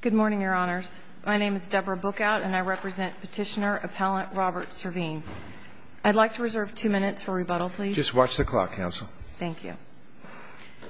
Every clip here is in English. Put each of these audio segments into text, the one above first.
Good morning, Your Honors. My name is Deborah Bookout, and I represent Petitioner Appellant Robert Servin. I'd like to reserve two minutes for rebuttal, please. Just watch the clock, Counsel. Thank you.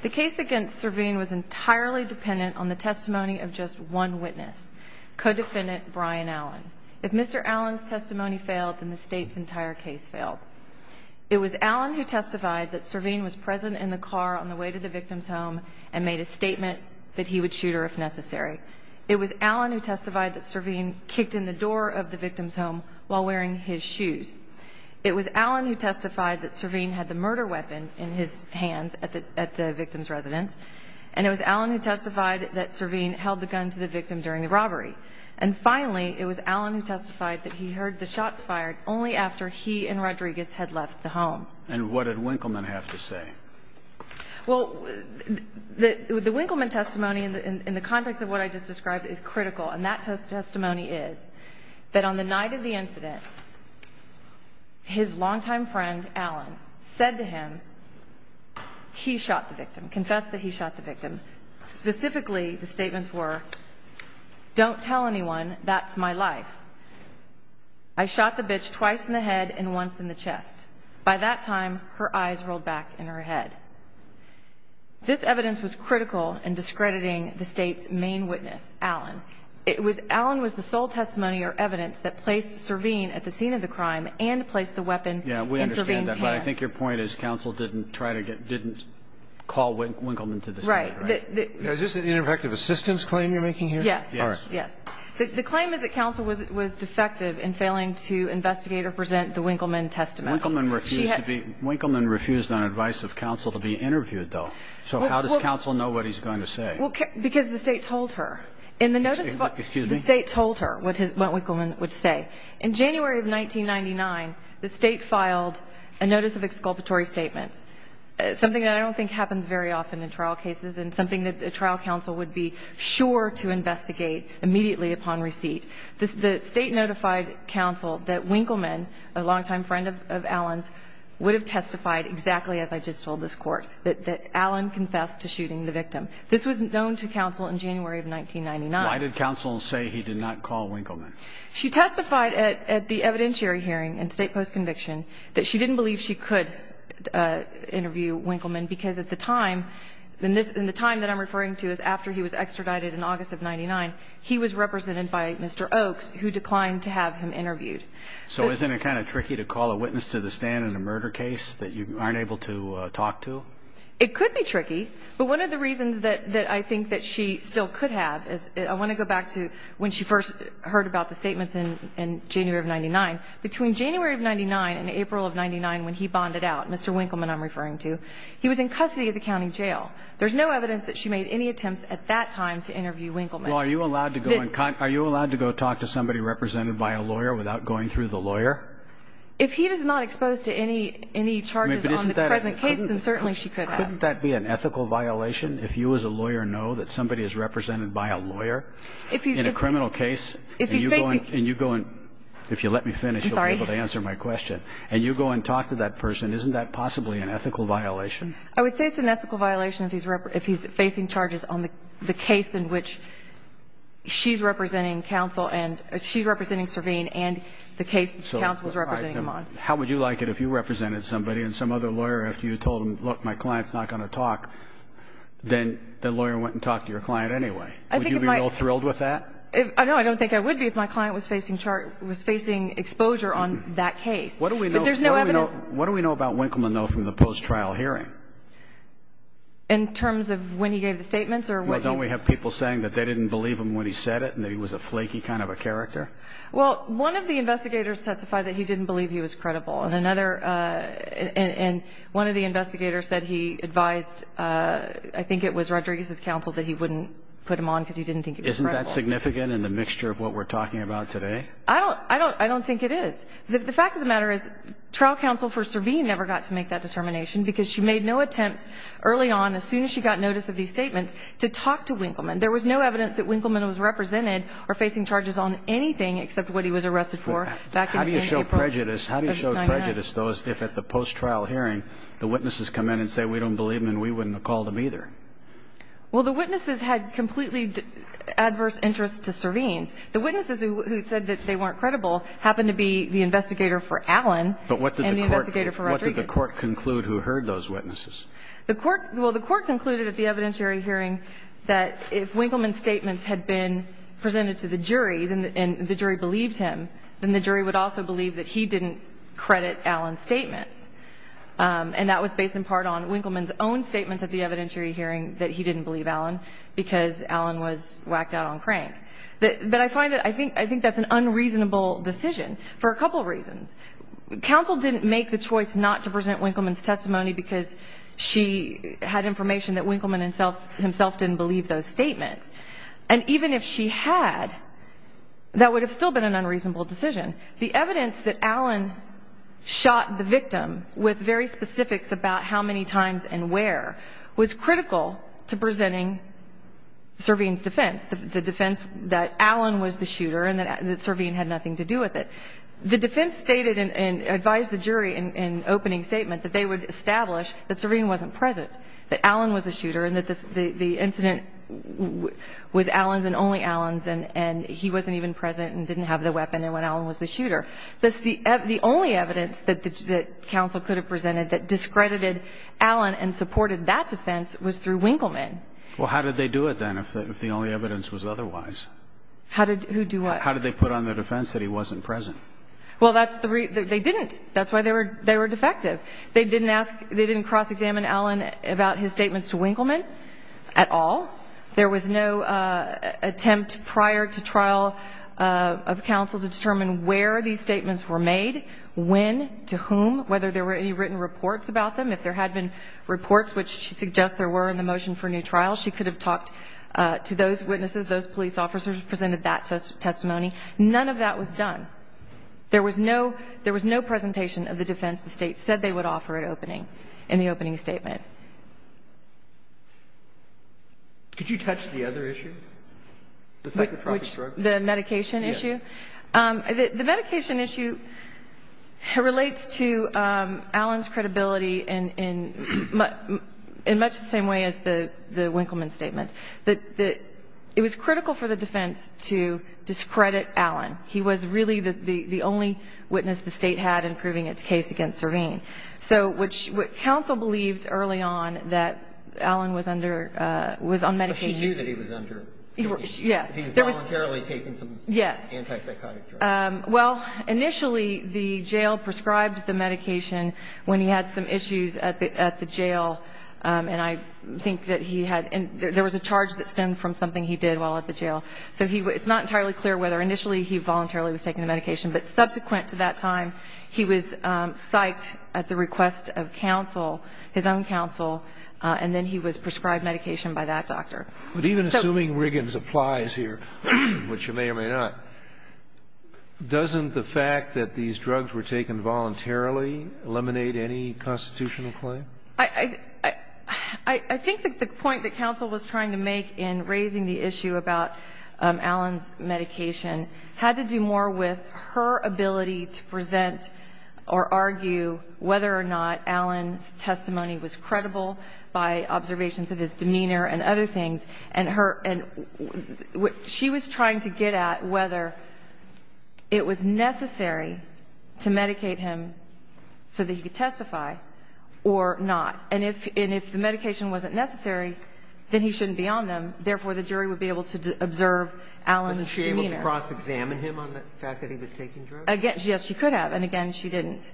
The case against Servin was entirely dependent on the testimony of just one witness, Codefendant Brian Allen. If Mr. Allen's testimony failed, then the State's entire case failed. It was Allen who testified that Servin was present in the car on the way to the victim's home and made a statement that he would shoot her if necessary. It was Allen who testified that Servin kicked in the door of the victim's home while wearing his shoes. It was Allen who testified that Servin had the murder weapon in his hands at the victim's residence, and it was Allen who testified that Servin held the gun to the victim during the robbery. And finally, it was Allen who testified that he heard the shots fired only after he and Rodriguez had left the home. And what did Winkleman have to say? Well, the Winkleman testimony in the context of what I just described is critical, and that testimony is that on the night of the incident, his longtime friend, Allen, said to him, he shot the victim, confessed that he shot the victim. Specifically, the statements were, don't tell anyone, that's my life. I shot the bitch twice in the head and once in the chest. By that time, her eyes rolled back in her head. This evidence was critical in discrediting the state's main witness, Allen. Allen was the sole testimony or evidence that placed Servin at the scene of the crime and placed the weapon in Servin's hands. Yeah, we understand that, but I think your point is counsel didn't call Winkleman to the scene, right? Right. Is this an ineffective assistance claim you're making here? Yes. All right. Yes. The claim is that counsel was defective in failing to investigate or present the Winkleman testimony. Winkleman refused to be ñ Winkleman refused on advice of counsel to be interviewed, though. So how does counsel know what he's going to say? Because the state told her. Excuse me? The state told her what Winkleman would say. In January of 1999, the state filed a notice of exculpatory statements, something that I don't think happens very often in trial cases and something that a trial counsel would be sure to investigate immediately upon receipt. The state notified counsel that Winkleman, a longtime friend of Allen's, would have testified exactly as I just told this Court, that Allen confessed to shooting the victim. This was known to counsel in January of 1999. Why did counsel say he did not call Winkleman? She testified at the evidentiary hearing in state post-conviction that she didn't believe she could interview Winkleman because at the time, and the time that I'm referring to is after he was extradited in August of 99, he was represented by Mr. Oaks, who declined to have him interviewed. So isn't it kind of tricky to call a witness to the stand in a murder case that you aren't able to talk to? It could be tricky, but one of the reasons that I think that she still could have is, I want to go back to when she first heard about the statements in January of 99. Between January of 99 and April of 99, when he bonded out, Mr. Winkleman I'm referring to, he was in custody at the county jail. There's no evidence that she made any attempts at that time to interview Winkleman. Well, are you allowed to go talk to somebody represented by a lawyer without going through the lawyer? If he is not exposed to any charges on the present case, then certainly she could have. Couldn't that be an ethical violation? If you as a lawyer know that somebody is represented by a lawyer in a criminal case and you go and, if you let me finish, you'll be able to answer my question, and you go and talk to that person, isn't that possibly an ethical violation? I would say it's an ethical violation if he's facing charges on the case in which she's representing counsel and she's representing Servene and the case that counsel is representing him on. How would you like it if you represented somebody and some other lawyer, after you told them, look, my client's not going to talk, then the lawyer went and talked to your client anyway? Would you be real thrilled with that? No, I don't think I would be if my client was facing exposure on that case. What do we know about Winkleman, though, from the post-trial hearing? In terms of when he gave the statements? Well, don't we have people saying that they didn't believe him when he said it and that he was a flaky kind of a character? Well, one of the investigators testified that he didn't believe he was credible, and one of the investigators said he advised, I think it was Rodriguez's counsel, that he wouldn't put him on because he didn't think he was credible. Isn't that significant in the mixture of what we're talking about today? I don't think it is. The fact of the matter is trial counsel for Servene never got to make that determination because she made no attempts early on, as soon as she got notice of these statements, to talk to Winkleman. There was no evidence that Winkleman was represented or facing charges on anything except what he was arrested for. How do you show prejudice, though, if at the post-trial hearing the witnesses come in and say we don't believe him and we wouldn't have called him either? Well, the witnesses had completely adverse interests to Servene. The witnesses who said that they weren't credible happened to be the investigator for Allen and the investigator for Rodriguez. How did the court conclude who heard those witnesses? The court – well, the court concluded at the evidentiary hearing that if Winkleman's statements had been presented to the jury and the jury believed him, then the jury would also believe that he didn't credit Allen's statements. And that was based in part on Winkleman's own statements at the evidentiary hearing that he didn't believe Allen because Allen was whacked out on Crane. But I find that – I think that's an unreasonable decision for a couple reasons. Counsel didn't make the choice not to present Winkleman's testimony because she had information that Winkleman himself didn't believe those statements. And even if she had, that would have still been an unreasonable decision. The evidence that Allen shot the victim with very specifics about how many times and where was critical to presenting Servene's defense, the defense that Allen was the shooter and that Servene had nothing to do with it. The defense stated and advised the jury in opening statement that they would establish that Serene wasn't present, that Allen was the shooter, and that the incident was Allen's and only Allen's, and he wasn't even present and didn't have the weapon, and Allen was the shooter. The only evidence that counsel could have presented that discredited Allen and supported that defense was through Winkleman. Well, how did they do it, then, if the only evidence was otherwise? How did – who do what? How did they put on the defense that he wasn't present? Well, that's the – they didn't. That's why they were defective. They didn't ask – they didn't cross-examine Allen about his statements to Winkleman at all. There was no attempt prior to trial of counsel to determine where these statements were made, when, to whom, whether there were any written reports about them. If there had been reports, which she suggests there were in the motion for a new trial, she could have talked to those witnesses, those police officers who presented that testimony. None of that was done. There was no – there was no presentation of the defense the State said they would offer at opening, in the opening statement. Could you touch the other issue, the psychotropic drugs? The medication issue? Yes. The medication issue relates to Allen's credibility in much the same way as the Winkleman statements. It was critical for the defense to discredit Allen. He was really the only witness the State had in proving its case against Serene. So what counsel believed early on, that Allen was under – was on medication. But she knew that he was under – He was voluntarily taking some antipsychotic drugs. Well, initially, the jail prescribed the medication when he had some issues at the jail. And I think that he had – there was a charge that stemmed from something he did while at the jail. So he – it's not entirely clear whether initially he voluntarily was taking the medication. But subsequent to that time, he was psyched at the request of counsel, his own counsel, and then he was prescribed medication by that doctor. But even assuming Riggins applies here, which you may or may not, doesn't the fact that these drugs were taken voluntarily eliminate any constitutional claim? I think that the point that counsel was trying to make in raising the issue about Allen's medication had to do more with her ability to present or argue whether or not Allen's testimony was credible by observations of his demeanor and other things. And her – and what she was trying to get at, whether it was necessary to medicate him so that he could testify or not. And if the medication wasn't necessary, then he shouldn't be on them. Therefore, the jury would be able to observe Allen's demeanor. Was she able to cross-examine him on the fact that he was taking drugs? Again, yes, she could have. And again, she didn't.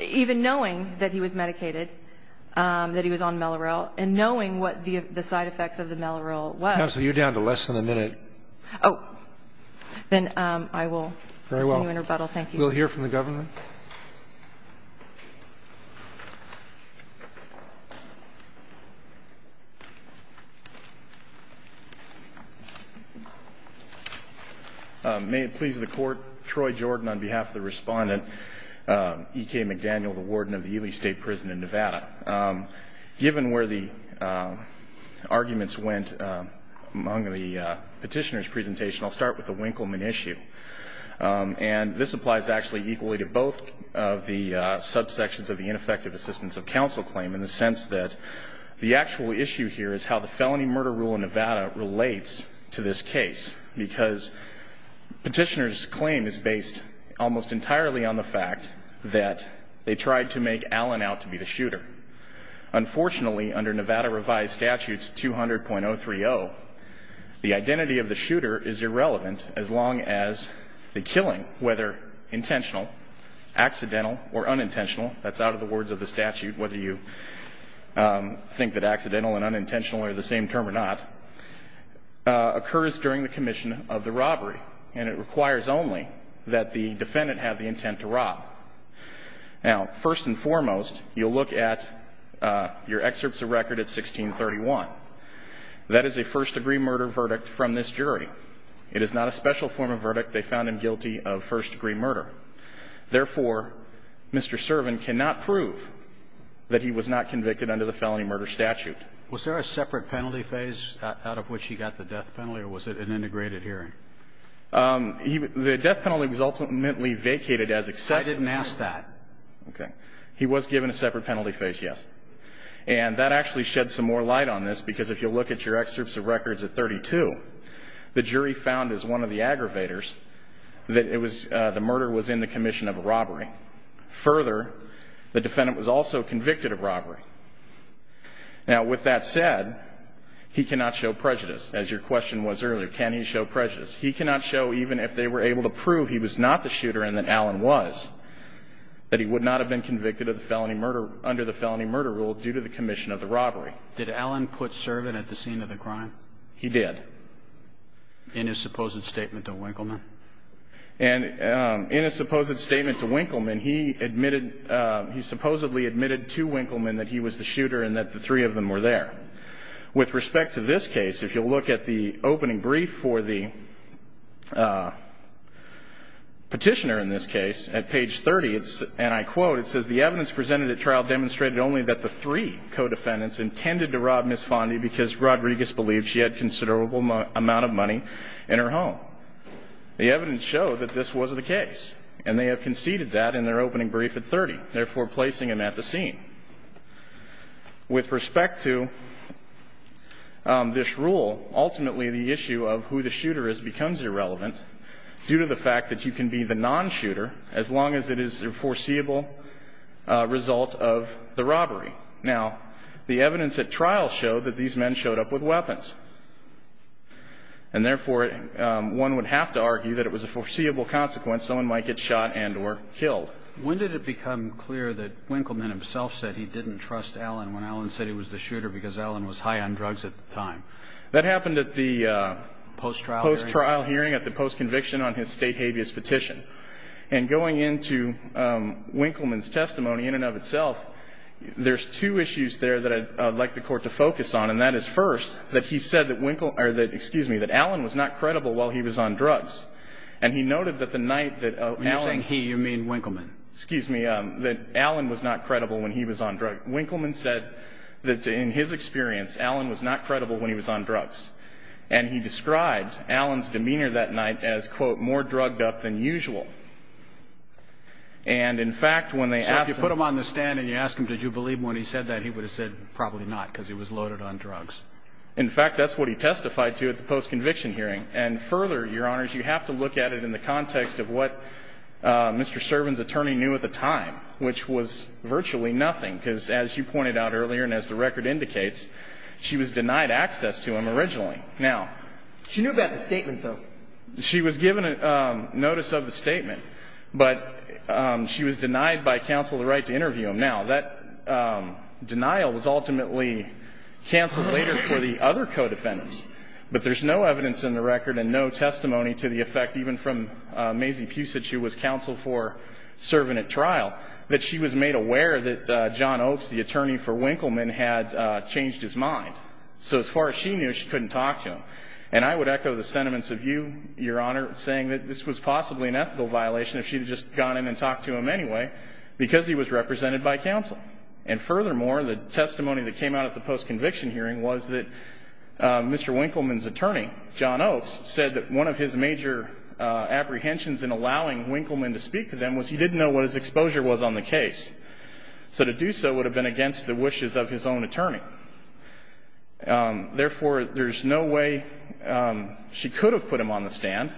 Even knowing that he was medicated, that he was on Mellorel, and knowing what the side effects of the Mellorel was. Counsel, you're down to less than a minute. Oh. Then I will send you in rebuttal. Thank you. We'll hear from the government. May it please the Court, Troy Jordan on behalf of the respondent, E.K. McDaniel, the warden of the Ely State Prison in Nevada. Given where the arguments went among the petitioner's presentation, I'll start with the Winkleman issue. And this applies actually equally to both of the subsections of the ineffective assistance of counsel claim in the sense that the actual issue here is how the felony murder rule in Nevada relates to this case. Because petitioner's claim is based almost entirely on the fact that they tried to make Allen out to be the shooter. Unfortunately, under Nevada revised statutes 200.030, the identity of the shooter is irrelevant as long as the killing, whether intentional, accidental, or unintentional, that's out of the words of the statute, whether you think that accidental and unintentional are the same term or not, occurs during the commission of the robbery. And it requires only that the defendant have the intent to rob. Now, first and foremost, you'll look at your excerpts of record at 1631. That is a first-degree murder verdict from this jury. It is not a special form of verdict. They found him guilty of first-degree murder. Therefore, Mr. Servin cannot prove that he was not convicted under the felony murder statute. Was there a separate penalty phase out of which he got the death penalty, or was it an integrated hearing? The death penalty was ultimately vacated as excessive. I didn't ask that. Okay. He was given a separate penalty phase, yes. And that actually sheds some more light on this, because if you look at your excerpts of records at 32, the jury found, as one of the aggravators, that the murder was in the commission of a robbery. Further, the defendant was also convicted of robbery. Now, with that said, he cannot show prejudice, as your question was earlier. Can he show prejudice? He cannot show, even if they were able to prove he was not the shooter and that Allen was, that he would not have been convicted under the felony murder rule due to the commission of the robbery. Did Allen put Servin at the scene of the crime? He did. In his supposed statement to Winkleman? And in his supposed statement to Winkleman, he admitted, he supposedly admitted to Winkleman that he was the shooter and that the three of them were there. With respect to this case, if you'll look at the opening brief for the petitioner in this case, at page 30, and I quote, it says, the evidence presented at trial demonstrated only that the three co-defendants intended to rob Ms. Fondi because Rodriguez believed she had a considerable amount of money in her home. The evidence showed that this was the case, and they have conceded that in their opening brief at 30, therefore placing him at the scene. With respect to this rule, ultimately the issue of who the shooter is becomes irrelevant due to the fact that you can be the non-shooter as long as it is a foreseeable result of the robbery. Now, the evidence at trial showed that these men showed up with weapons, and therefore one would have to argue that it was a foreseeable consequence someone might get shot and or killed. When did it become clear that Winkleman himself said he didn't trust Allen when Allen said he was the shooter because Allen was high on drugs at the time? That happened at the post-trial hearing, at the post-conviction on his state habeas petition. And going into Winkleman's testimony in and of itself, there's two issues there that I'd like the Court to focus on, and that is first that he said that Winkleman or that, excuse me, that Allen was not credible while he was on drugs. And he noted that the night that Allen. When you're saying he, you mean Winkleman. Excuse me. That Allen was not credible when he was on drugs. Winkleman said that in his experience, Allen was not credible when he was on drugs. And he described Allen's demeanor that night as, quote, more drugged up than usual. And in fact, when they asked him. So if you put him on the stand and you ask him, did you believe when he said that, he would have said probably not, because he was loaded on drugs. In fact, that's what he testified to at the post-conviction hearing. And further, Your Honors, you have to look at it in the context of what Mr. Servin's attorney knew at the time, which was virtually nothing, because as you pointed out earlier and as the record indicates, she was denied access to him originally. Now. She knew about the statement, though. She was given notice of the statement, but she was denied by counsel the right to interview him. Now, that denial was ultimately canceled later for the other co-defendants. But there's no evidence in the record and no testimony to the effect, even from Mazie Pusich, who was counsel for Servin at trial, that she was made aware that John Oakes, the attorney for Winkleman, had changed his mind. So as far as she knew, she couldn't talk to him. And I would echo the sentiments of you, Your Honor, saying that this was possibly an ethical violation if she had just gone in and talked to him anyway, because he was represented by counsel. And furthermore, the testimony that came out at the post-conviction hearing was that Mr. Winkleman's attorney, John Oakes, said that one of his major apprehensions in allowing Winkleman to speak to them was he didn't know what his exposure was on the case. So to do so would have been against the wishes of his own attorney. Therefore, there's no way she could have put him on the stand,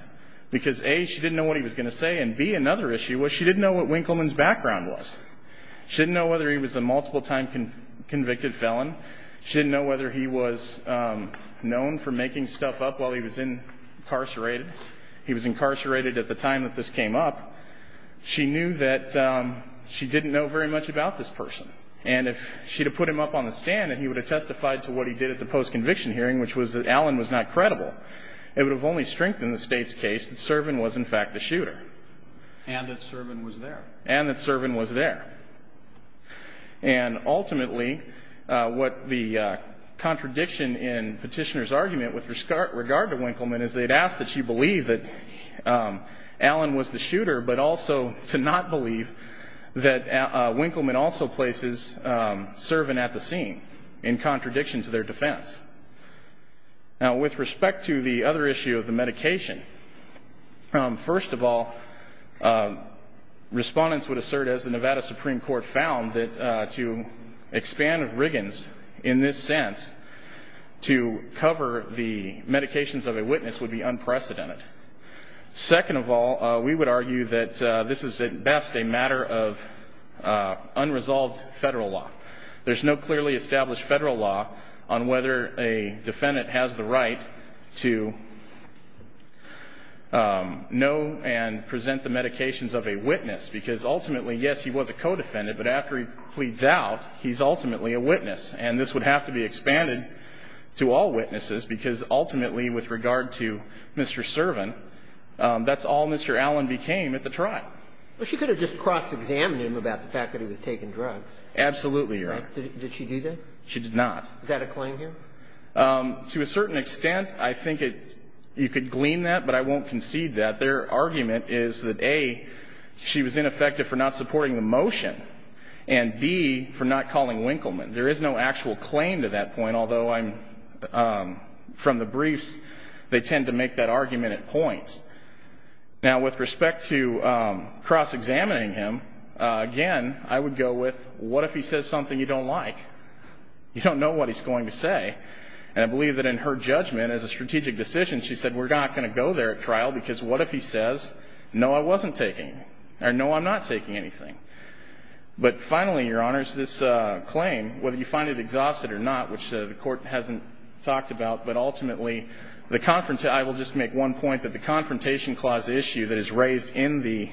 because A, she didn't know what he was going to say, and B, another issue was she didn't know what Winkleman's background was. She didn't know whether he was a multiple-time convicted felon. She didn't know whether he was known for making stuff up while he was incarcerated. He was incarcerated at the time that this came up. She knew that she didn't know very much about this person. And if she had put him up on the stand, and he would have testified to what he did at the post-conviction hearing, which was that Allen was not credible, it would have only strengthened the State's case that Servan was, in fact, the shooter. And that Servan was there. And that Servan was there. And ultimately, what the contradiction in Petitioner's argument with regard to Winkleman is they had asked that she believe that Allen was the shooter, but also to not believe that Winkleman also places Servan at the scene in contradiction to their defense. Now, with respect to the other issue of the medication, first of all, respondents would assert, as the Nevada Supreme Court found, that to expand Riggins in this sense to cover the medications of a witness would be unprecedented. Second of all, we would argue that this is at best a matter of unresolved federal law. There's no clearly established federal law on whether a defendant has the right to know and present the medications of a witness, because ultimately, yes, he was a co-defendant, but after he pleads out, he's ultimately a witness. And this would have to be expanded to all witnesses, because ultimately, with regard to Mr. Servan, that's all Mr. Allen became at the trial. Well, she could have just cross-examined him about the fact that he was taking drugs. Absolutely, Your Honor. Did she do that? She did not. Is that a claim here? To a certain extent, I think it's you could glean that, but I won't concede that. Their argument is that, A, she was ineffective for not supporting the motion, and, B, for not calling Winkleman. There is no actual claim to that point, although I'm from the briefs. They tend to make that argument at points. Now, with respect to cross-examining him, again, I would go with, what if he says something you don't like? You don't know what he's going to say. And I believe that in her judgment, as a strategic decision, she said, we're not going to go there at trial, because what if he says, no, I wasn't taking, or no, I'm not taking anything. But finally, Your Honors, this claim, whether you find it exhausted or not, which the Court hasn't talked about, but ultimately, I will just make one point, that the Confrontation Clause issue that is raised in the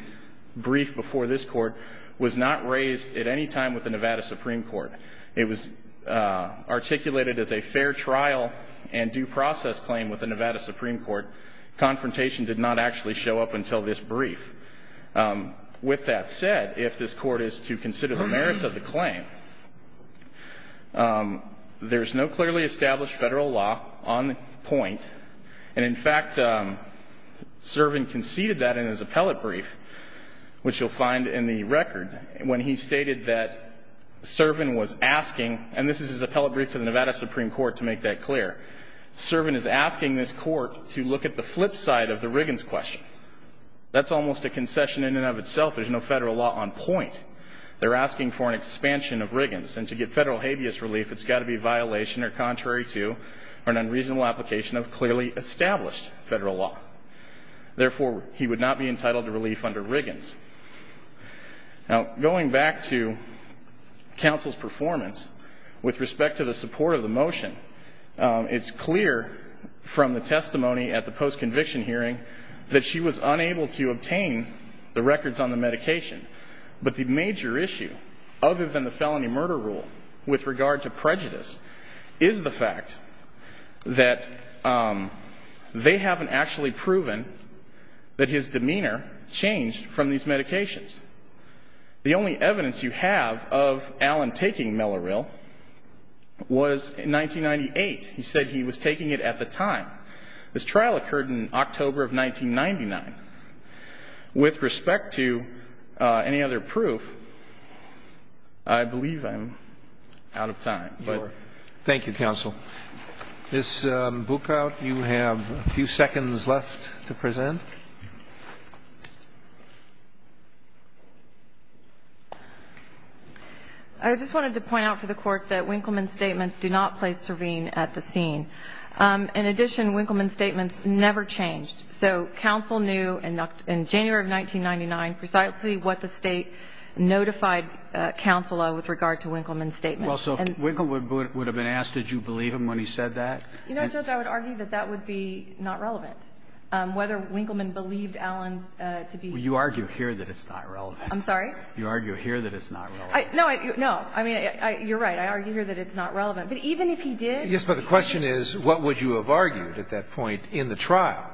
brief before this Court was not raised at any time with the Nevada Supreme Court. It was articulated as a fair trial and due process claim with the Nevada Supreme Court. Confrontation did not actually show up until this brief. With that said, if this Court is to consider the merits of the claim, there's no clearly established Federal law on point. And, in fact, Servan conceded that in his appellate brief, which you'll find in the record, when he stated that Servan was asking, and this is his appellate brief to the Nevada Supreme Court to make that clear, Servan is asking this Court to look at the flip side of the Riggins question. That's almost a concession in and of itself. There's no Federal law on point. They're asking for an expansion of Riggins. And to get Federal habeas relief, it's got to be a violation or contrary to or an unreasonable application of clearly established Federal law. Therefore, he would not be entitled to relief under Riggins. Now, going back to counsel's performance with respect to the support of the motion, it's clear from the testimony at the post-conviction hearing that she was unable to obtain the records on the medication. But the major issue, other than the felony murder rule with regard to prejudice, is the fact that they haven't actually proven that his demeanor changed from these medications. The only evidence you have of Allen taking Melloryl was in 1998. He said he was taking it at the time. This trial occurred in October of 1999. With respect to any other proof, I believe I'm out of time. Thank you, counsel. Ms. Buchout, you have a few seconds left to present. I just wanted to point out for the Court that Winkleman's statements do not play serene at the scene. In addition, Winkleman's statements never changed. So counsel knew in January of 1999 precisely what the State notified counsel of with regard to Winkleman's statements. Well, so if Winkleman would have been asked, did you believe him when he said that? You know, Judge, I would argue that that would be not relevant. Whether Winkleman believed Allen to be ---- Well, you argue here that it's not relevant. I'm sorry? You argue here that it's not relevant. No, no. I mean, you're right. I argue here that it's not relevant. But even if he did ---- Yes, but the question is, what would you have argued at that point in the trial?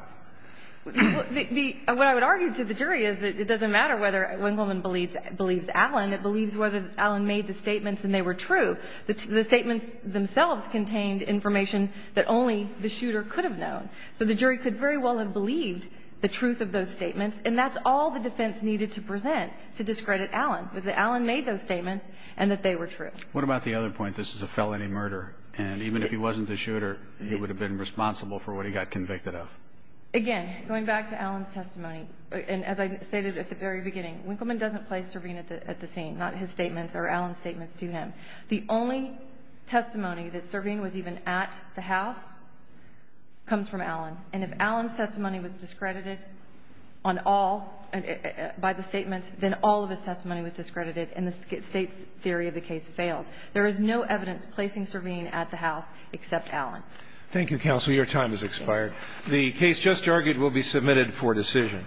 What I would argue to the jury is that it doesn't matter whether Winkleman believes Allen. It believes whether Allen made the statements and they were true. The statements themselves contained information that only the shooter could have known. So the jury could very well have believed the truth of those statements, and that's all the defense needed to present to discredit Allen was that Allen made those statements and that they were true. What about the other point? This is a felony murder, and even if he wasn't the shooter, he would have been responsible for what he got convicted of. Again, going back to Allen's testimony, and as I stated at the very beginning, Winkleman doesn't place Servine at the scene, not his statements or Allen's statements to him. The only testimony that Servine was even at the house comes from Allen. And if Allen's testimony was discredited on all by the statements, then all of his testimony was discredited and the State's theory of the case fails. There is no evidence placing Servine at the house except Allen. Thank you, counsel. Your time has expired. The case just argued will be submitted for decision.